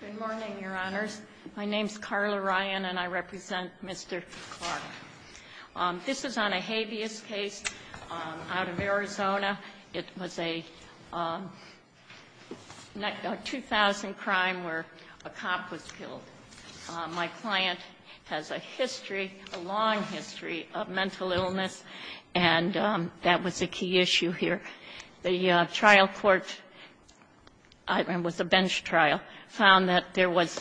Good morning, Your Honors. My name is Carla Ryan and I represent Mr. Clark. This is on a habeas case out of Arizona. It was a 2000 crime where a cop was killed. My client has a history, a long history, of mental illness, and that was a key issue here. The trial court, it was a bench trial, found that there was,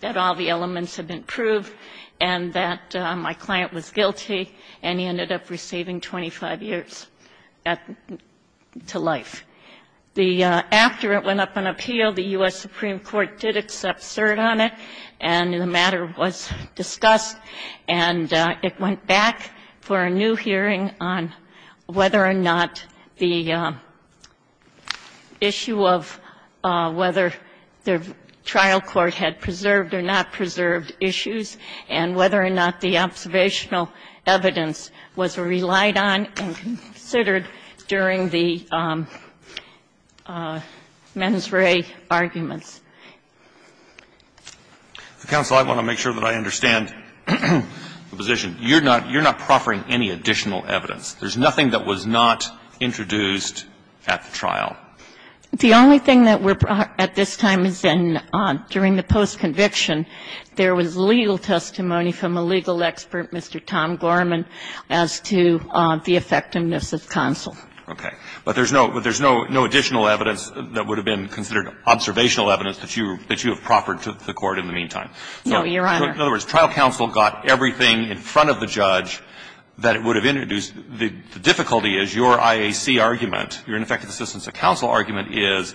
that all the elements had been proved and that my client was guilty and he ended up receiving 25 years to life. The, after it went up on appeal, the U.S. Supreme Court did accept cert on it and the matter was discussed and it went back for a new hearing on whether or not the issue of whether the trial court had preserved or not preserved issues and whether or not the observational evidence was relied on and considered during the trial. I think it's fair to say that the trial court did not have any additional evidence to support the mens re arguments. The counsel, I want to make sure that I understand the position. You're not proffering any additional evidence. There's nothing that was not introduced at the trial. The only thing that we're at this time is during the post-conviction there was legal testimony from a legal expert, Mr. Tom Gorman, as to the effectiveness of counsel. Okay. But there's no additional evidence that would have been considered observational evidence that you have proffered to the court in the meantime. No, Your Honor. So in other words, trial counsel got everything in front of the judge that it would have introduced. The difficulty is your IAC argument, your ineffectiveness of counsel argument is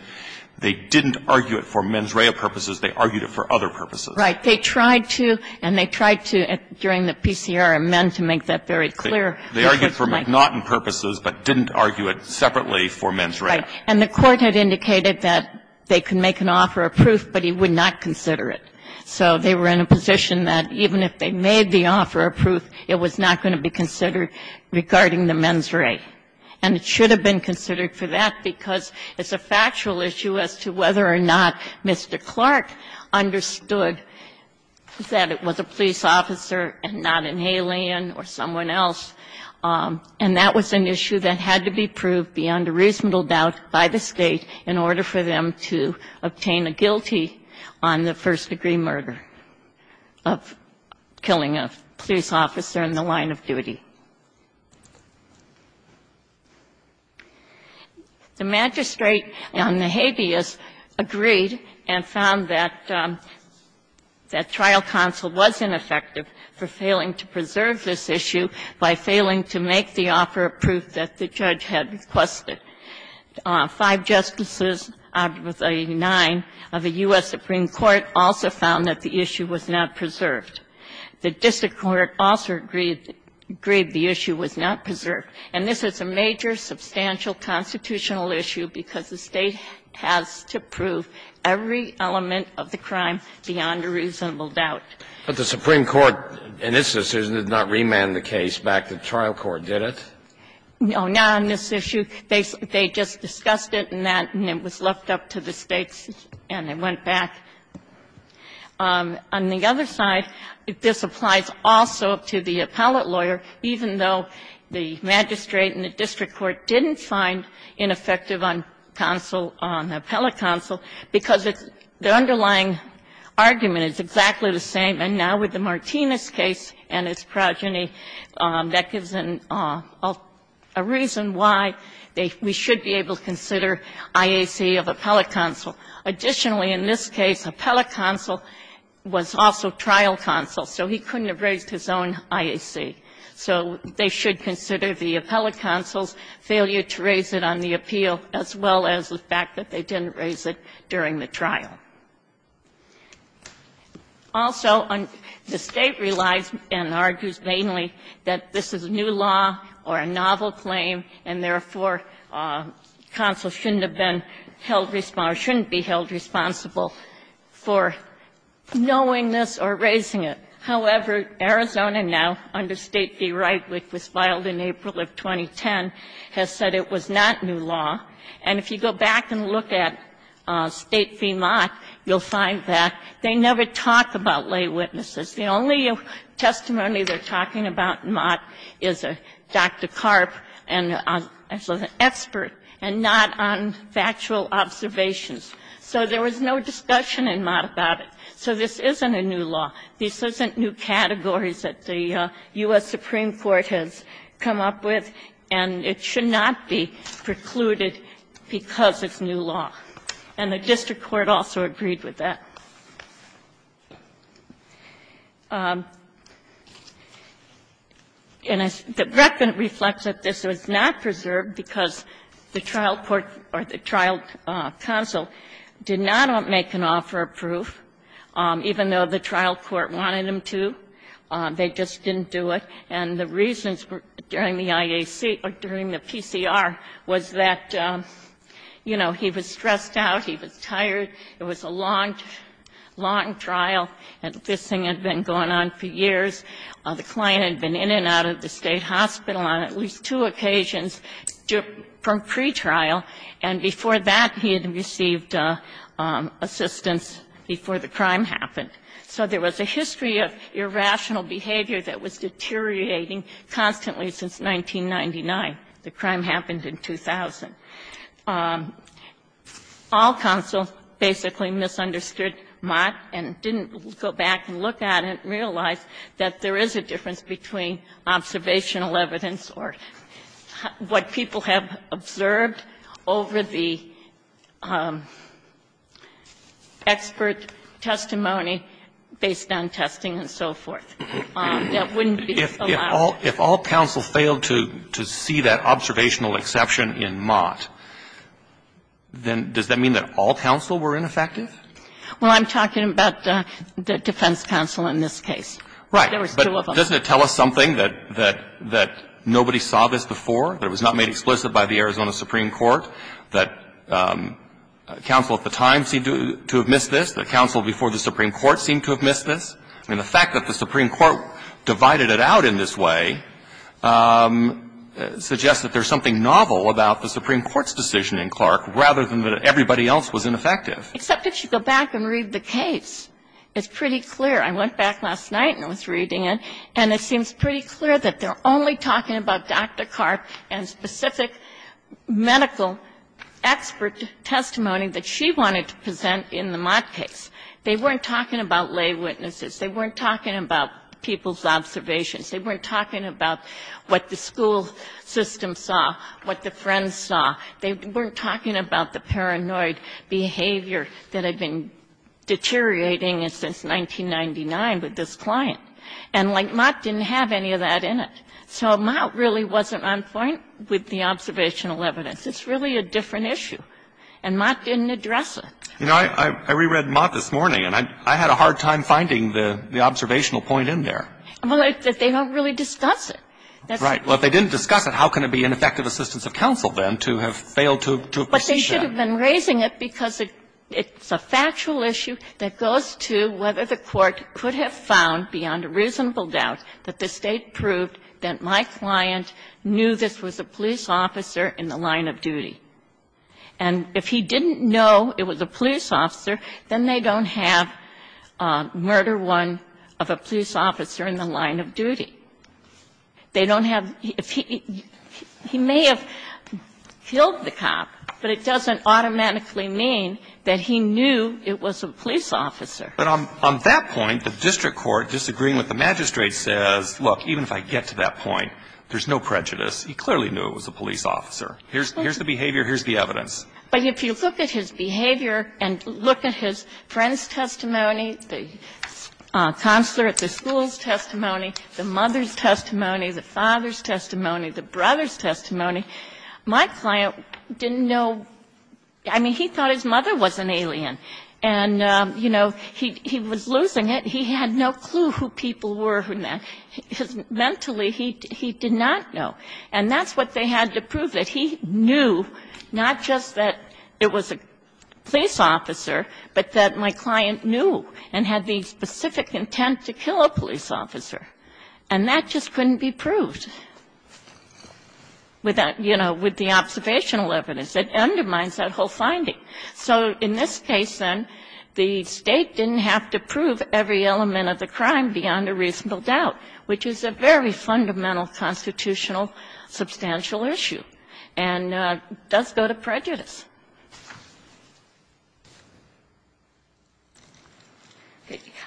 they didn't argue it for mens rea purposes. They argued it for other purposes. Right. They tried to, and they tried to during the PCR amend to make that very clear. They argued for McNaughton purposes but didn't argue it separately for mens rea. Right. And the Court had indicated that they could make an offer of proof, but he would not consider it. So they were in a position that even if they made the offer of proof, it was not going to be considered regarding the mens rea. And it should have been considered for that because it's a factual issue as to whether or not Mr. Clark understood that it was a police officer and not an alien or someone else, and that was an issue that had to be proved beyond a reasonable doubt by the State in order for them to obtain a guilty on the first-degree murder of killing a police officer in the line of duty. The magistrate on the habeas agreed and found that that trial counsel was ineffective for failing to preserve this issue by failing to make the offer of proof that the judge had requested. Five justices, out of the nine of the U.S. Supreme Court, also found that the issue was not preserved. The district court also agreed the issue was not preserved. And this is a major, substantial, constitutional issue because the State has to prove every element of the crime beyond a reasonable doubt. But the Supreme Court, in its decision, did not remand the case back to the trial court, did it? No. Not on this issue. They just discussed it and that, and it was left up to the States and they went back. On the other side, this applies also to the appellate lawyer, even though the magistrate and the district court didn't find ineffective on counsel, on appellate counsel, because the underlying argument is exactly the same. And now with the Martinez case and its progeny, that gives a reason why we should be able to consider IAC of appellate counsel. Additionally, in this case, appellate counsel was also trial counsel, so he couldn't have raised his own IAC. So they should consider the appellate counsel's failure to raise it on the appeal as well as the fact that they didn't raise it during the trial. Also, the State relies and argues mainly that this is a new law or a novel claim and, therefore, counsel shouldn't have been held responsible or shouldn't be held responsible for knowing this or raising it. However, Arizona now, under State v. Wright, which was filed in April of 2010, has said it was not new law. And if you go back and look at State v. Mott, you'll find that they never talk about lay witnesses. The only testimony they're talking about in Mott is Dr. Karp, an expert, and not on factual observations. So there was no discussion in Mott about it. So this isn't a new law. This isn't new categories that the U.S. Supreme Court has come up with, and it should not be precluded because it's new law. And the district court also agreed with that. And the record reflects that this was not preserved because the trial court or the trial counsel did not want to make an offer of proof, even though the trial court wanted them to. They just didn't do it. And the reasons during the IAC or during the PCR was that, you know, he was stressed out, he was tired. It was a long, long trial, and this thing had been going on for years. The client had been in and out of the State hospital on at least two occasions from pretrial, and before that he had received assistance before the crime happened. So there was a history of irrational behavior that was deteriorating constantly since 1999. The crime happened in 2000. All counsel basically misunderstood Mott and didn't go back and look at it and realize that there is a difference between observational evidence or what people have observed over the expert testimony based on testing and so forth. That wouldn't be allowed. If all counsel failed to see that observational exception in Mott, then does that mean that all counsel were ineffective? Well, I'm talking about the defense counsel in this case. Right. There was two of them. But doesn't it tell us something, that nobody saw this before, that it was not made explicit by the Arizona Supreme Court, that counsel at the time seemed to have missed this, that counsel before the Supreme Court seemed to have missed this? And the fact that the Supreme Court divided it out in this way suggests that there's something novel about the Supreme Court's decision in Clark rather than that everybody else was ineffective. Except if you go back and read the case, it's pretty clear. I went back last night and I was reading it, and it seems pretty clear that they're only talking about Dr. Karp and specific medical expert testimony that she wanted to present in the Mott case. They weren't talking about lay witnesses. They weren't talking about people's observations. They weren't talking about what the school system saw, what the friends saw. They weren't talking about the paranoid behavior that had been deteriorating since 1999 with this client. And, like, Mott didn't have any of that in it. So Mott really wasn't on point with the observational evidence. It's really a different issue. And Mott didn't address it. You know, I reread Mott this morning, and I had a hard time finding the observational point in there. Well, they don't really discuss it. Right. Well, if they didn't discuss it, how can it be an effective assistance of counsel, then, to have failed to have presented it? But they should have been raising it because it's a factual issue that goes to whether the Court could have found, beyond a reasonable doubt, that the State proved that my client knew this was a police officer in the line of duty. And if he didn't know it was a police officer, then they don't have murder one of a police officer in the line of duty. They don't have the ---- he may have killed the cop, but it doesn't automatically mean that he knew it was a police officer. But on that point, the district court, disagreeing with the magistrate, says, look, even if I get to that point, there's no prejudice. He clearly knew it was a police officer. Here's the behavior, here's the evidence. But if you look at his behavior and look at his friend's testimony, the counselor at the school's testimony, the mother's testimony, the father's testimony, the brother's testimony, my client didn't know. I mean, he thought his mother was an alien. And, you know, he was losing it. He had no clue who people were. Mentally, he did not know. And that's what they had to prove, that he knew not just that it was a police officer, but that my client knew and had the specific intent to kill a police officer. And that just couldn't be proved with that, you know, with the observational evidence. It undermines that whole finding. So in this case, then, the State didn't have to prove every element of the crime beyond a reasonable doubt, which is a very fundamental constitutional substantial issue and does go to prejudice.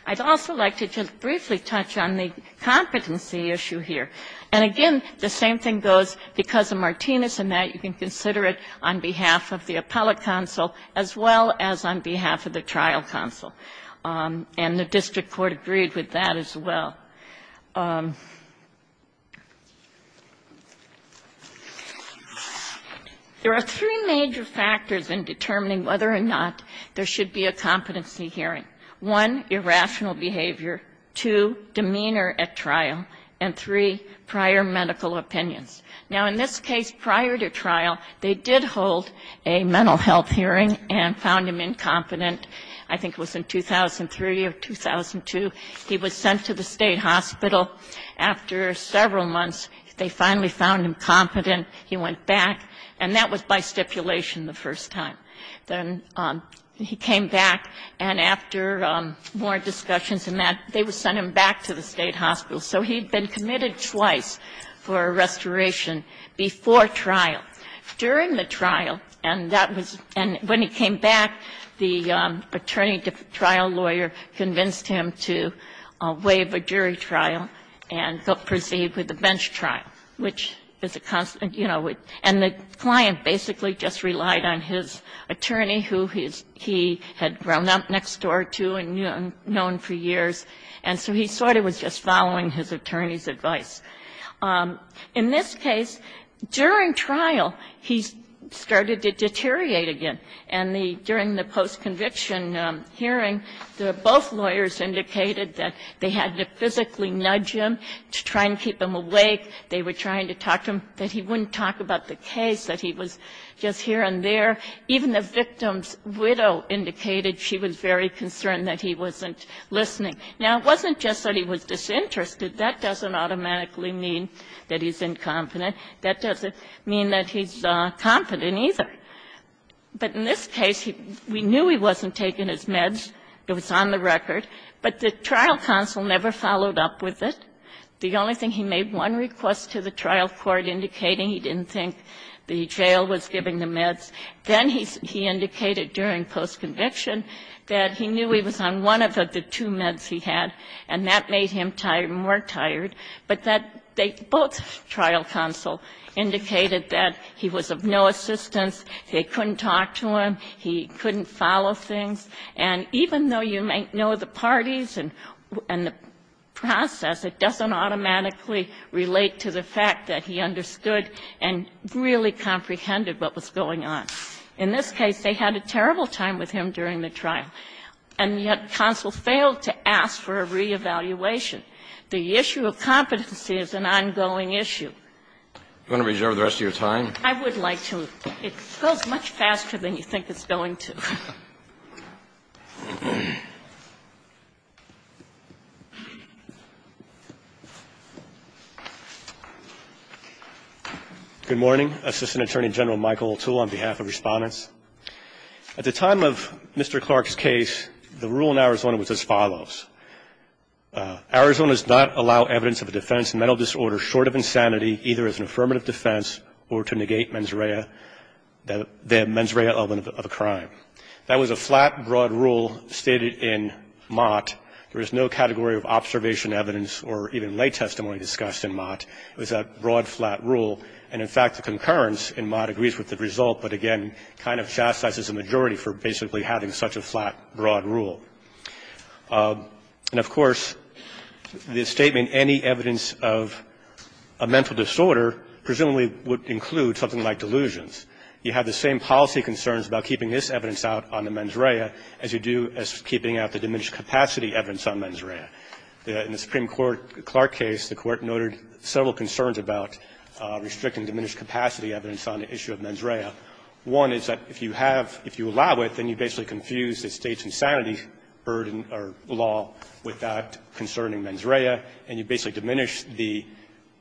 I'd also like to just briefly touch on the competency issue here. And, again, the same thing goes because of Martinez, and that you can consider it on behalf of the appellate counsel as well as on behalf of the trial counsel. And the district court agreed with that as well. There are three major factors in determining whether or not there should be a competency hearing. One, irrational behavior. Two, demeanor at trial. And three, prior medical opinions. Now, in this case, prior to trial, they did hold a mental health hearing and found him incompetent, I think it was in 2003 or 2002. He was sent to the State Hospital. After several months, they finally found him competent. He went back, and that was by stipulation the first time. Then he came back, and after more discussions and that, they sent him back to the State Hospital. So he'd been committed twice for a restoration before trial. During the trial, and that was when he came back, the attorney trial lawyer convinced him to waive a jury trial and proceed with a bench trial, which is a constant you know. And the client basically just relied on his attorney, who he had grown up next door to and known for years. And so he sort of was just following his attorney's advice. In this case, during trial, he started to deteriorate again. And the during the post-conviction hearing, both lawyers indicated that they had to physically nudge him to try and keep him awake. They were trying to talk to him that he wouldn't talk about the case, that he was just here and there. Even the victim's widow indicated she was very concerned that he wasn't listening. Now, it wasn't just that he was disinterested. That doesn't automatically mean that he's incompetent. That doesn't mean that he's confident either. But in this case, we knew he wasn't taking his meds. It was on the record. But the trial counsel never followed up with it. The only thing, he made one request to the trial court indicating he didn't think the jail was giving the meds. Then he indicated during post-conviction that he knew he was on one of the two meds he had, and that made him tired, more tired. But that they both, trial counsel, indicated that he was of no assistance. They couldn't talk to him. He couldn't follow things. And even though you may know the parties and the process, it doesn't automatically relate to the fact that he understood and really comprehended what was going on. In this case, they had a terrible time with him during the trial. And yet, counsel failed to ask for a reevaluation. The issue of competency is an ongoing issue. Kennedy, you want to reserve the rest of your time? I would like to. It goes much faster than you think it's going to. Good morning. Assistant Attorney General Michael Littell, on behalf of Respondents. At the time of Mr. Clark's case, the rule in Arizona was as follows. Arizona does not allow evidence of a defense of mental disorder short of insanity, either as an affirmative defense or to negate mens rea, the mens rea element of a crime. That was a flat, broad rule stated in Mott. There is no category of observation, evidence, or even lay testimony discussed in Mott. It was a broad, flat rule. And in fact, the concurrence in Mott agrees with the result, but again, kind of chastises the majority for basically having such a flat, broad rule. And of course, the statement, any evidence of a mental disorder, presumably would include something like delusions. You have the same policy concerns about keeping this evidence out on the mens rea as you do as keeping out the diminished capacity evidence on mens rea. In the Supreme Court Clark case, the Court noted several concerns about restricting diminished capacity evidence on the issue of mens rea. One is that if you have – if you allow it, then you basically confuse the state's insanity burden or law with that concerning mens rea, and you basically diminish the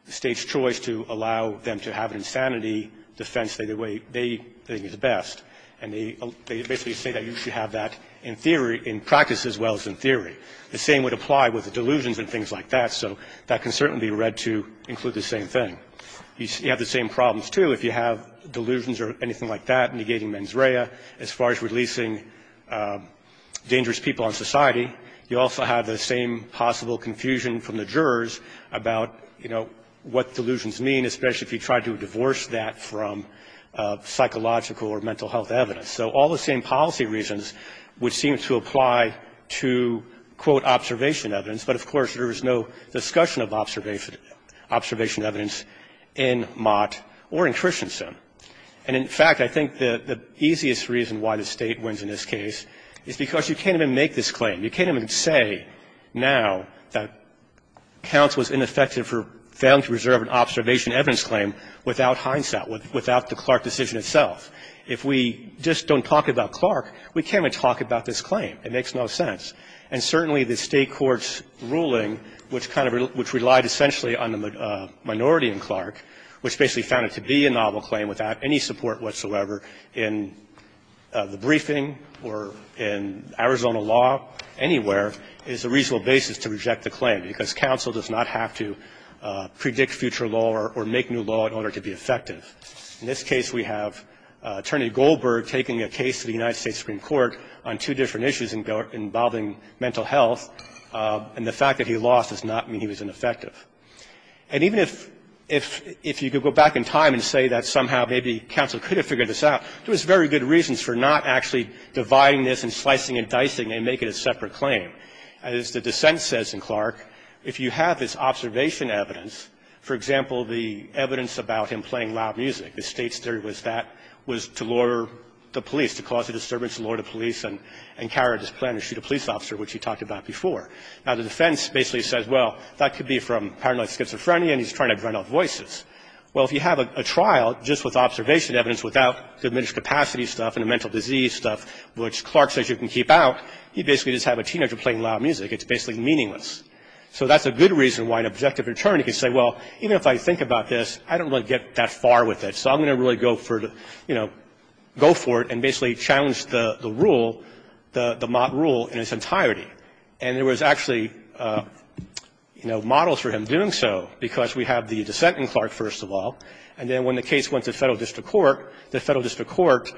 State's choice to allow them to have an insanity defense the way they think is best, and they basically say that you should have that in theory, in practice as well as in theory. The same would apply with the delusions and things like that, so that can certainly be read to include the same thing. You have the same problems, too, if you have delusions or anything like that negating mens rea as far as releasing dangerous people in society. You also have the same possible confusion from the jurors about, you know, what delusions mean, especially if you try to divorce that from psychological or mental health evidence. So all the same policy reasons would seem to apply to, quote, observation evidence, but of course there is no discussion of observation evidence in Mott or in Christensen. And in fact, I think the easiest reason why the State wins in this case is because you can't even make this claim. You can't even say now that counts was ineffective for failing to reserve an observation evidence claim without hindsight, without the Clark decision itself. If we just don't talk about Clark, we can't even talk about this claim. It makes no sense. And certainly, the State court's ruling, which kind of rel – which relied essentially on the minority in Clark, which basically found it to be a novel claim without any support whatsoever in the briefing or in Arizona law anywhere, is a reasonable basis to reject the claim, because counsel does not have to predict future law or make new law in order to be effective. In this case, we have Attorney Goldberg taking a case to the United States Supreme Court on two different issues involving mental health, and the fact that he lost does not mean he was ineffective. And even if you could go back in time and say that somehow maybe counsel could have figured this out, there was very good reasons for not actually dividing this and slicing and dicing and make it a separate claim. As the dissent says in Clark, if you have this observation evidence, for example, the evidence about him playing loud music, the State's theory was that was to lure the police, to cause a disturbance, lure the police and carry out this plan to shoot a police officer, which he talked about before. Now, the defense basically says, well, that could be from paranoid schizophrenia and he's trying to drown out voices. Well, if you have a trial just with observation evidence without diminished capacity stuff and mental disease stuff, which Clark says you can keep out, you basically just have a teenager playing loud music. It's basically meaningless. So that's a good reason why an objective attorney can say, well, even if I think about this, I don't really get that far with it, so I'm going to really go for the you know, go for it and basically challenge the rule, the Mott rule in its entirety. And there was actually, you know, models for him doing so, because we have the dissent in Clark, first of all, and then when the case went to Federal District Court, the Federal District Court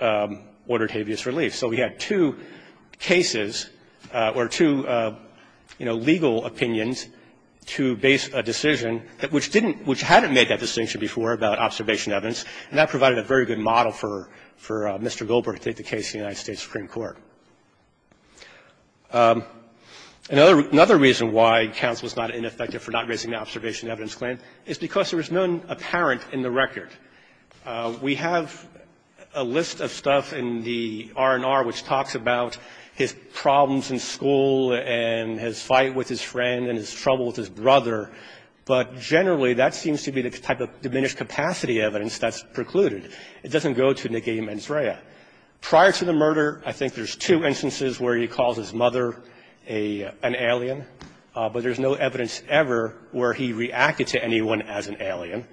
ordered habeas relief. So we had two cases or two, you know, legal opinions to base a decision that which didn't, which hadn't made that distinction before about observation evidence, and that provided a very good model for Mr. Gilbert to take the case in the United States Supreme Court. Another reason why counsel is not ineffective for not raising the observation evidence claim is because there is none apparent in the record. We have a list of stuff in the R&R which talks about his problems in school and his fight with his friend and his trouble with his brother, but generally that seems to be the type of diminished capacity evidence that's precluded. It doesn't go to Negi Menzraya. Prior to the murder, I think there's two instances where he calls his mother an alien, but there's no evidence ever where he reacted to anyone as an alien.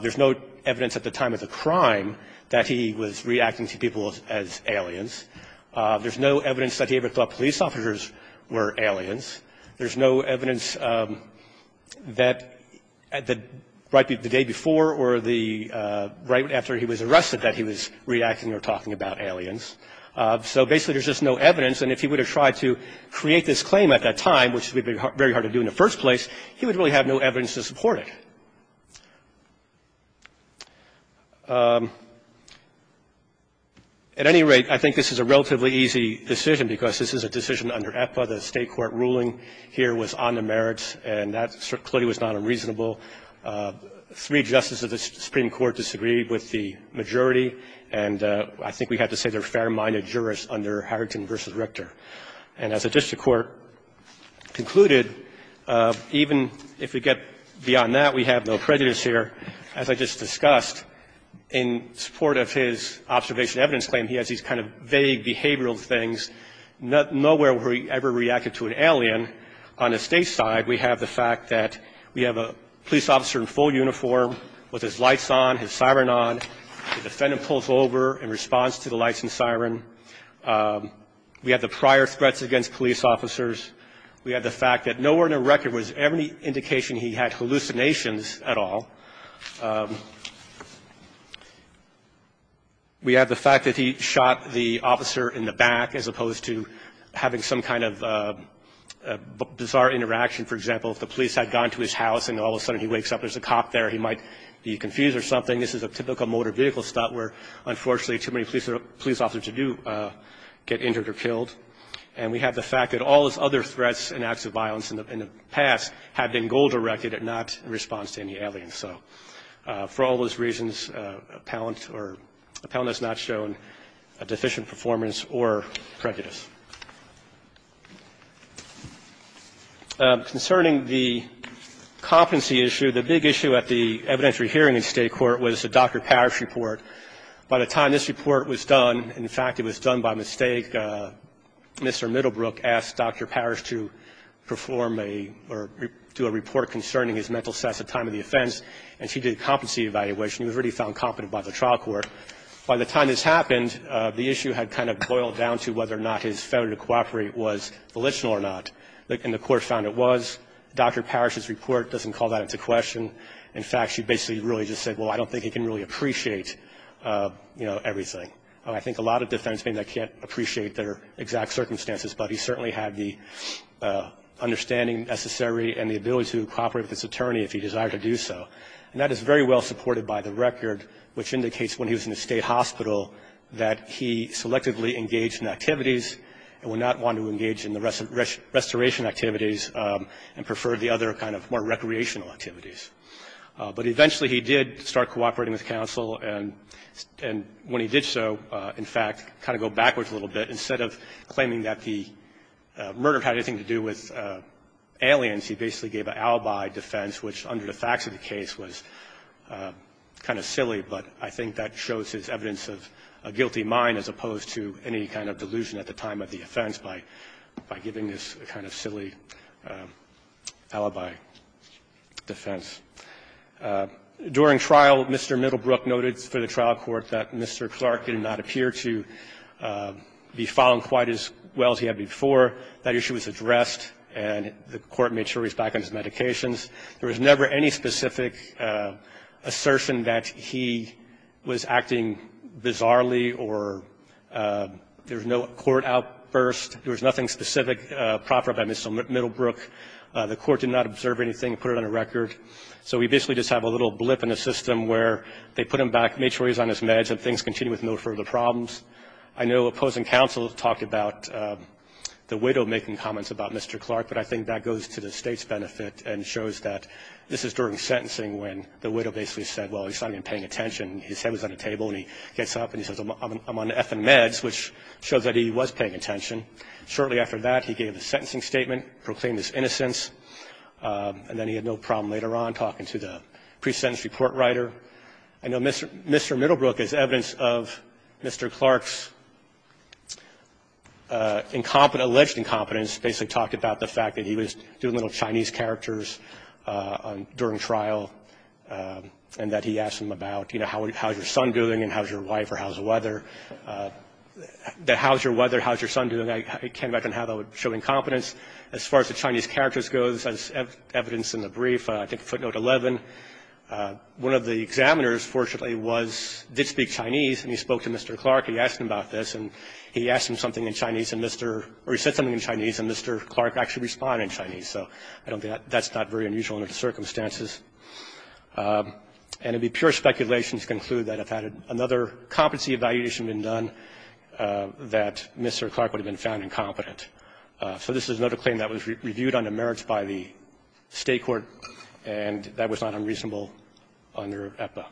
There's no evidence at the time of the crime that he was reacting to people as aliens. There's no evidence that he ever thought police officers were aliens. There's no evidence that right the day before or the right after he was arrested that he was reacting or talking about aliens. So basically there's just no evidence, and if he would have tried to create this claim at that time, which would have been very hard to do in the first place, he would really have no evidence to support it. At any rate, I think this is a relatively easy decision because this is a decision under EPA. The State court ruling here was on the merits, and that clearly was not unreasonable. Three justices of the Supreme Court disagreed with the majority, and I think we have to say they're fair-minded jurists under Harrington v. Richter. And as the district court concluded, even if we get beyond that, we have no prejudice here. As I just discussed, in support of his observation evidence claim, he has these kind of vague behavioral things. Nowhere where he ever reacted to an alien on the State side, we have the fact that we have a police officer in full uniform with his lights on, his siren on, the defendant pulls over and responds to the lights and siren. We have the prior threats against police officers. We have the fact that nowhere in the record was any indication he had hallucinations at all. We have the fact that he shot the officer in the back as opposed to having some kind of bizarre interaction. For example, if the police had gone to his house and all of a sudden he wakes up, there's a cop there, he might be confused or something. This is a typical motor vehicle stop where, unfortunately, too many police officers do get injured or killed. And we have the fact that all his other threats and acts of violence in the past had been goal-directed and not in response to any aliens. So for all those reasons, Appellant has not shown a deficient performance or prejudice. Concerning the competency issue, the big issue at the evidentiary hearing in State court was the Dr. Parrish report. By the time this report was done, in fact, it was done by mistake. Mr. Middlebrook asked Dr. Parrish to perform a or do a report concerning his mental status at the time of the offense, and she did a competency evaluation. He was really found competent by the trial court. By the time this happened, the issue had kind of boiled down to whether or not his ability to cooperate was volitional or not, and the court found it was. Dr. Parrish's report doesn't call that into question. In fact, she basically really just said, well, I don't think he can really appreciate everything. I think a lot of defense may not appreciate their exact circumstances, but he certainly had the understanding necessary and the ability to cooperate with his attorney if he desired to do so. And that is very well supported by the record, which indicates when he was in the state hospital that he selectively engaged in activities and would not want to engage in the restoration activities and preferred the other kind of more recreational activities. But eventually he did start cooperating with counsel, and when he did so, in fact, kind of go backwards a little bit. Instead of claiming that the murder had anything to do with aliens, he basically gave an alibi defense, which under the facts of the case was kind of silly, but I think that shows as evidence of a guilty mind as opposed to any kind of delusion at the time of the offense by giving this kind of silly alibi defense. During trial, Mr. Middlebrook noted for the trial court that Mr. Clark did not appear to be falling quite as well as he had before that issue was addressed, and the court made sure he was back on his medications. There was never any specific assertion that he was acting bizarrely or there was no court outburst. There was nothing specific proper by Mr. Middlebrook. The court did not observe anything, put it on a record. So we basically just have a little blip in the system where they put him back, made sure he was on his meds, and things continued with no further problems. I know opposing counsel talked about the widow making comments about Mr. Clark, but I think that goes to the State's benefit and shows that this is during sentencing when the widow basically said, well, he's not even paying attention. His head was on the table, and he gets up and he says, I'm on F and meds, which shows that he was paying attention. Shortly after that, he gave a sentencing statement, proclaimed his innocence, and then he had no problem later on talking to the pre-sentence report writer. I know Mr. Middlebrook, as evidence of Mr. Clark's incompetent, alleged incompetence, basically talked about the fact that he was doing little Chinese characters during trial and that he asked him about, you know, how's your son doing and how's your wife or how's the weather, that how's your weather, how's your son doing. I can't imagine how that would show incompetence. As far as the Chinese characters goes, as evidenced in the brief, I think footnote 11, one of the examiners, fortunately, did speak Chinese, and he spoke to Mr. Clark. He asked him about this, and he asked him something in Chinese, or he said something in Chinese, and Mr. Clark actually responded in Chinese. So I don't think that's not very unusual under the circumstances. And it would be pure speculation to conclude that if another competency evaluation had been done, that Mr. Clark would have been found incompetent. So this is another claim that was reviewed under merits by the State court, and that was not unreasonable under EPA.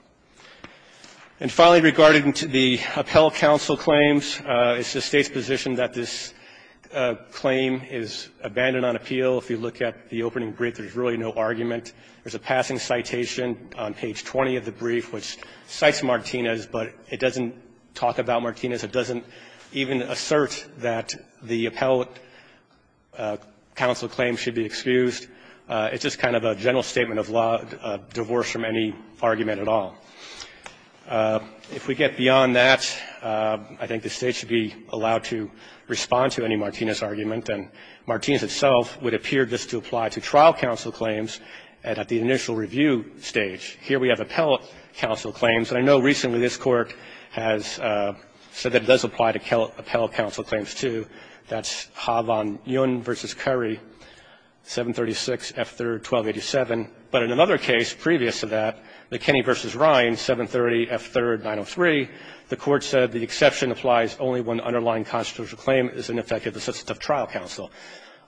And finally, regarding the appellate counsel claims, it's the State's position that this claim is abandoned on appeal. If you look at the opening brief, there's really no argument. There's a passing citation on page 20 of the brief which cites Martinez, but it doesn't talk about Martinez. It doesn't even assert that the appellate counsel claim should be excused. It's just kind of a general statement of divorce from any argument at all. If we get beyond that, I think the State should be allowed to respond to any Martinez argument, and Martinez itself would appear just to apply to trial counsel claims at the initial review stage. Here we have appellate counsel claims, and I know recently this Court has said that it does apply to appellate counsel claims, too. That's Havan Yun v. Curry, 736 F. 3rd, 1287. But in another case previous to that, McKinney v. Rhine, 730 F. 3rd, 903, the Court said the exception applies only when the underlying constitutional claim is an effective assistative trial counsel.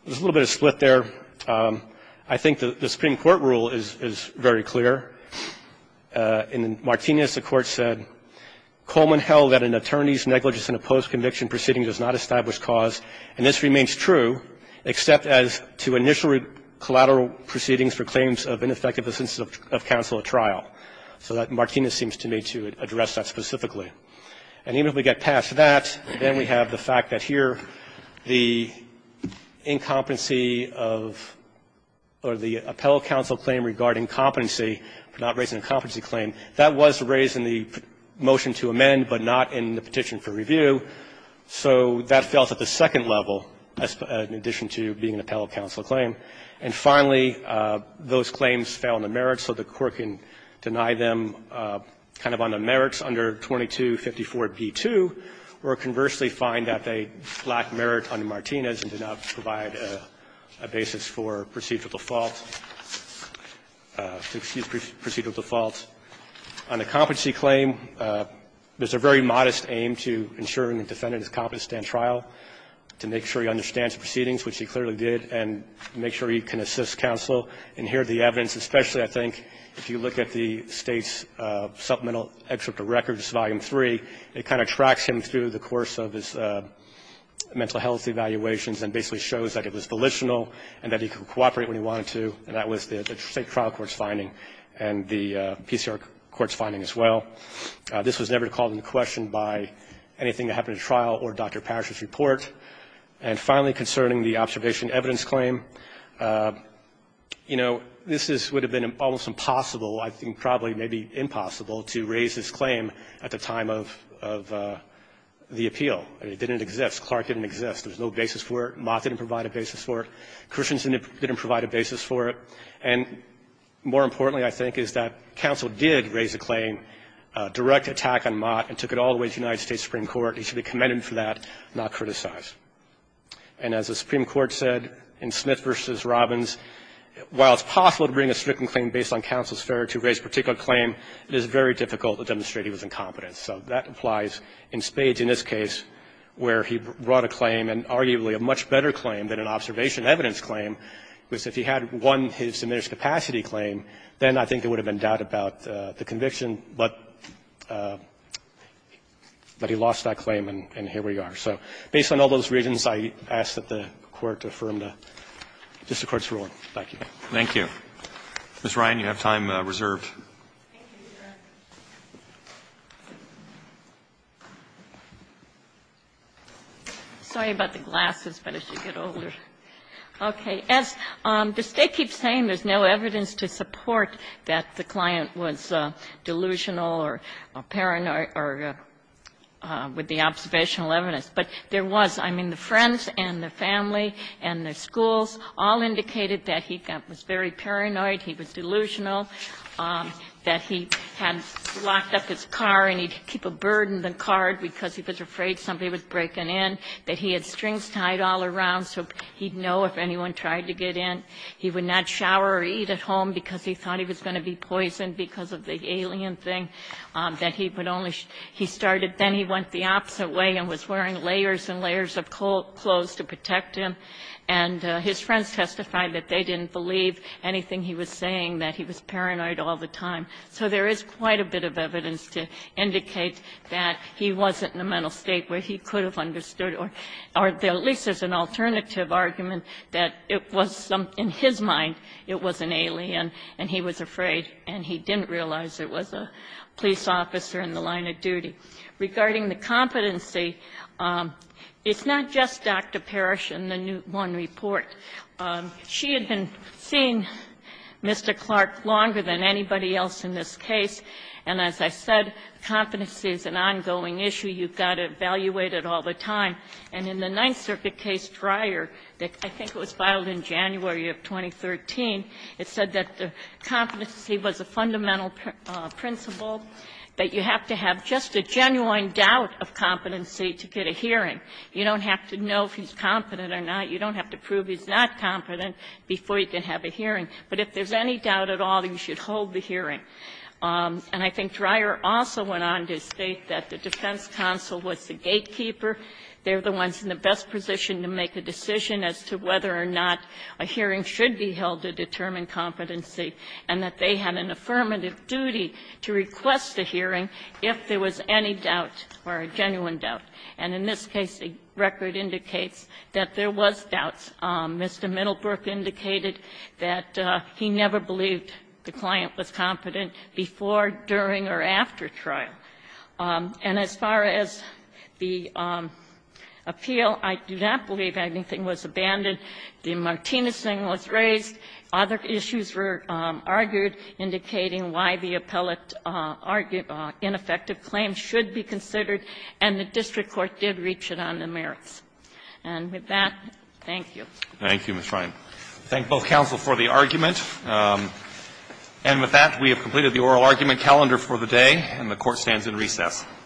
There's a little bit of split there. I think the Supreme Court rule is very clear. In Martinez, the Court said, Coleman held that an attorney's negligence in a post-conviction proceeding does not establish cause, and this remains true except as to initial collateral proceedings for claims of ineffective assistive counsel at trial. So that Martinez seems to me to address that specifically. And even if we get past that, then we have the fact that here the incompetency of or the appellate counsel claim regarding competency, not raising a competency claim, that was raised in the motion to amend, but not in the petition for review. So that fails at the second level in addition to being an appellate counsel claim. And finally, those claims fail in the merits, so the Court can deny them kind of on the merits under 2254b2, or conversely find that they lack merit under Martinez and do not provide a basis for procedural default, to excuse procedural default. On the competency claim, there's a very modest aim to ensuring the defendant is competent to stand trial, to make sure he understands the proceedings, which he clearly did, and make sure he can assist counsel and hear the evidence. Especially, I think, if you look at the State's supplemental excerpt of records, Volume 3, it kind of tracks him through the course of his mental health evaluations and basically shows that it was volitional and that he could cooperate when he wanted to, and that was the State trial court's finding and the PCR court's finding as well. This was never called into question by anything that happened at trial or Dr. Parrish's trial, including the observation evidence claim. You know, this would have been almost impossible, I think probably maybe impossible, to raise this claim at the time of the appeal. It didn't exist. Clark didn't exist. There's no basis for it. Mott didn't provide a basis for it. Christensen didn't provide a basis for it. And more importantly, I think, is that counsel did raise the claim, direct attack on Mott, and took it all the way to the United States Supreme Court. He should be commended for that, not criticized. And as the Supreme Court said in Smith v. Robbins, while it's possible to bring a stricken claim based on counsel's failure to raise a particular claim, it is very difficult to demonstrate he was incompetent. So that applies in Spades in this case, where he brought a claim, and arguably a much better claim than an observation evidence claim, because if he had won his diminished capacity claim, then I think there would have been doubt about the conviction, but he lost that claim and here we are. So based on all those reasons, I ask that the Court affirm the district court's ruling. Thank you. Roberts. Thank you. Ms. Ryan, you have time reserved. Thank you, Your Honor. Sorry about the glasses, but I should get older. Okay. As the State keeps saying, there's no evidence to support that the client was delusional or paranoid or with the observational evidence. But there was. I mean, the friends and the family and the schools all indicated that he was very paranoid, he was delusional, that he had locked up his car and he'd keep a bird in the car because he was afraid somebody was breaking in, that he had strings tied all around so he'd know if anyone tried to get in. He would not shower or eat at home because he thought he was going to be poisoned because of the alien thing, that he would only he started. Then he went the opposite way and was wearing layers and layers of clothes to protect him. And his friends testified that they didn't believe anything he was saying, that he was paranoid all the time. So there is quite a bit of evidence to indicate that he wasn't in a mental state where he could have understood, or at least as an alternative argument, that it was in his mind it was an alien and he was afraid and he didn't realize it was a police officer in the line of duty. Regarding the competency, it's not just Dr. Parrish in the Newt One report. She had been seeing Mr. Clark longer than anybody else in this case. And as I said, competency is an ongoing issue. You've got to evaluate it all the time. And in the Ninth Circuit case, Dreyer, that I think was filed in January of 2013, it said that the competency was a fundamental principle, that you have to have just a genuine doubt of competency to get a hearing. You don't have to know if he's competent or not. You don't have to prove he's not competent before you can have a hearing. But if there's any doubt at all, you should hold the hearing. And I think Dreyer also went on to state that the defense counsel was the gatekeeper. They're the ones in the best position to make a decision as to whether or not a hearing should be held to determine competency, and that they had an affirmative duty to request a hearing if there was any doubt or a genuine doubt. And in this case, the record indicates that there was doubts. Mr. Middlebrook indicated that he never believed the client was competent before, during, or after trial. And as far as the appeal, I do not believe anything was abandoned. The Martinez thing was raised. Other issues were argued, indicating why the appellate ineffective claim should be considered, and the district court did reach it on the merits. And with that, thank you. Thank you, Ms. Ryan. I thank both counsel for the argument. And with that, we have completed the oral argument calendar for the day, and the Court stands in recess.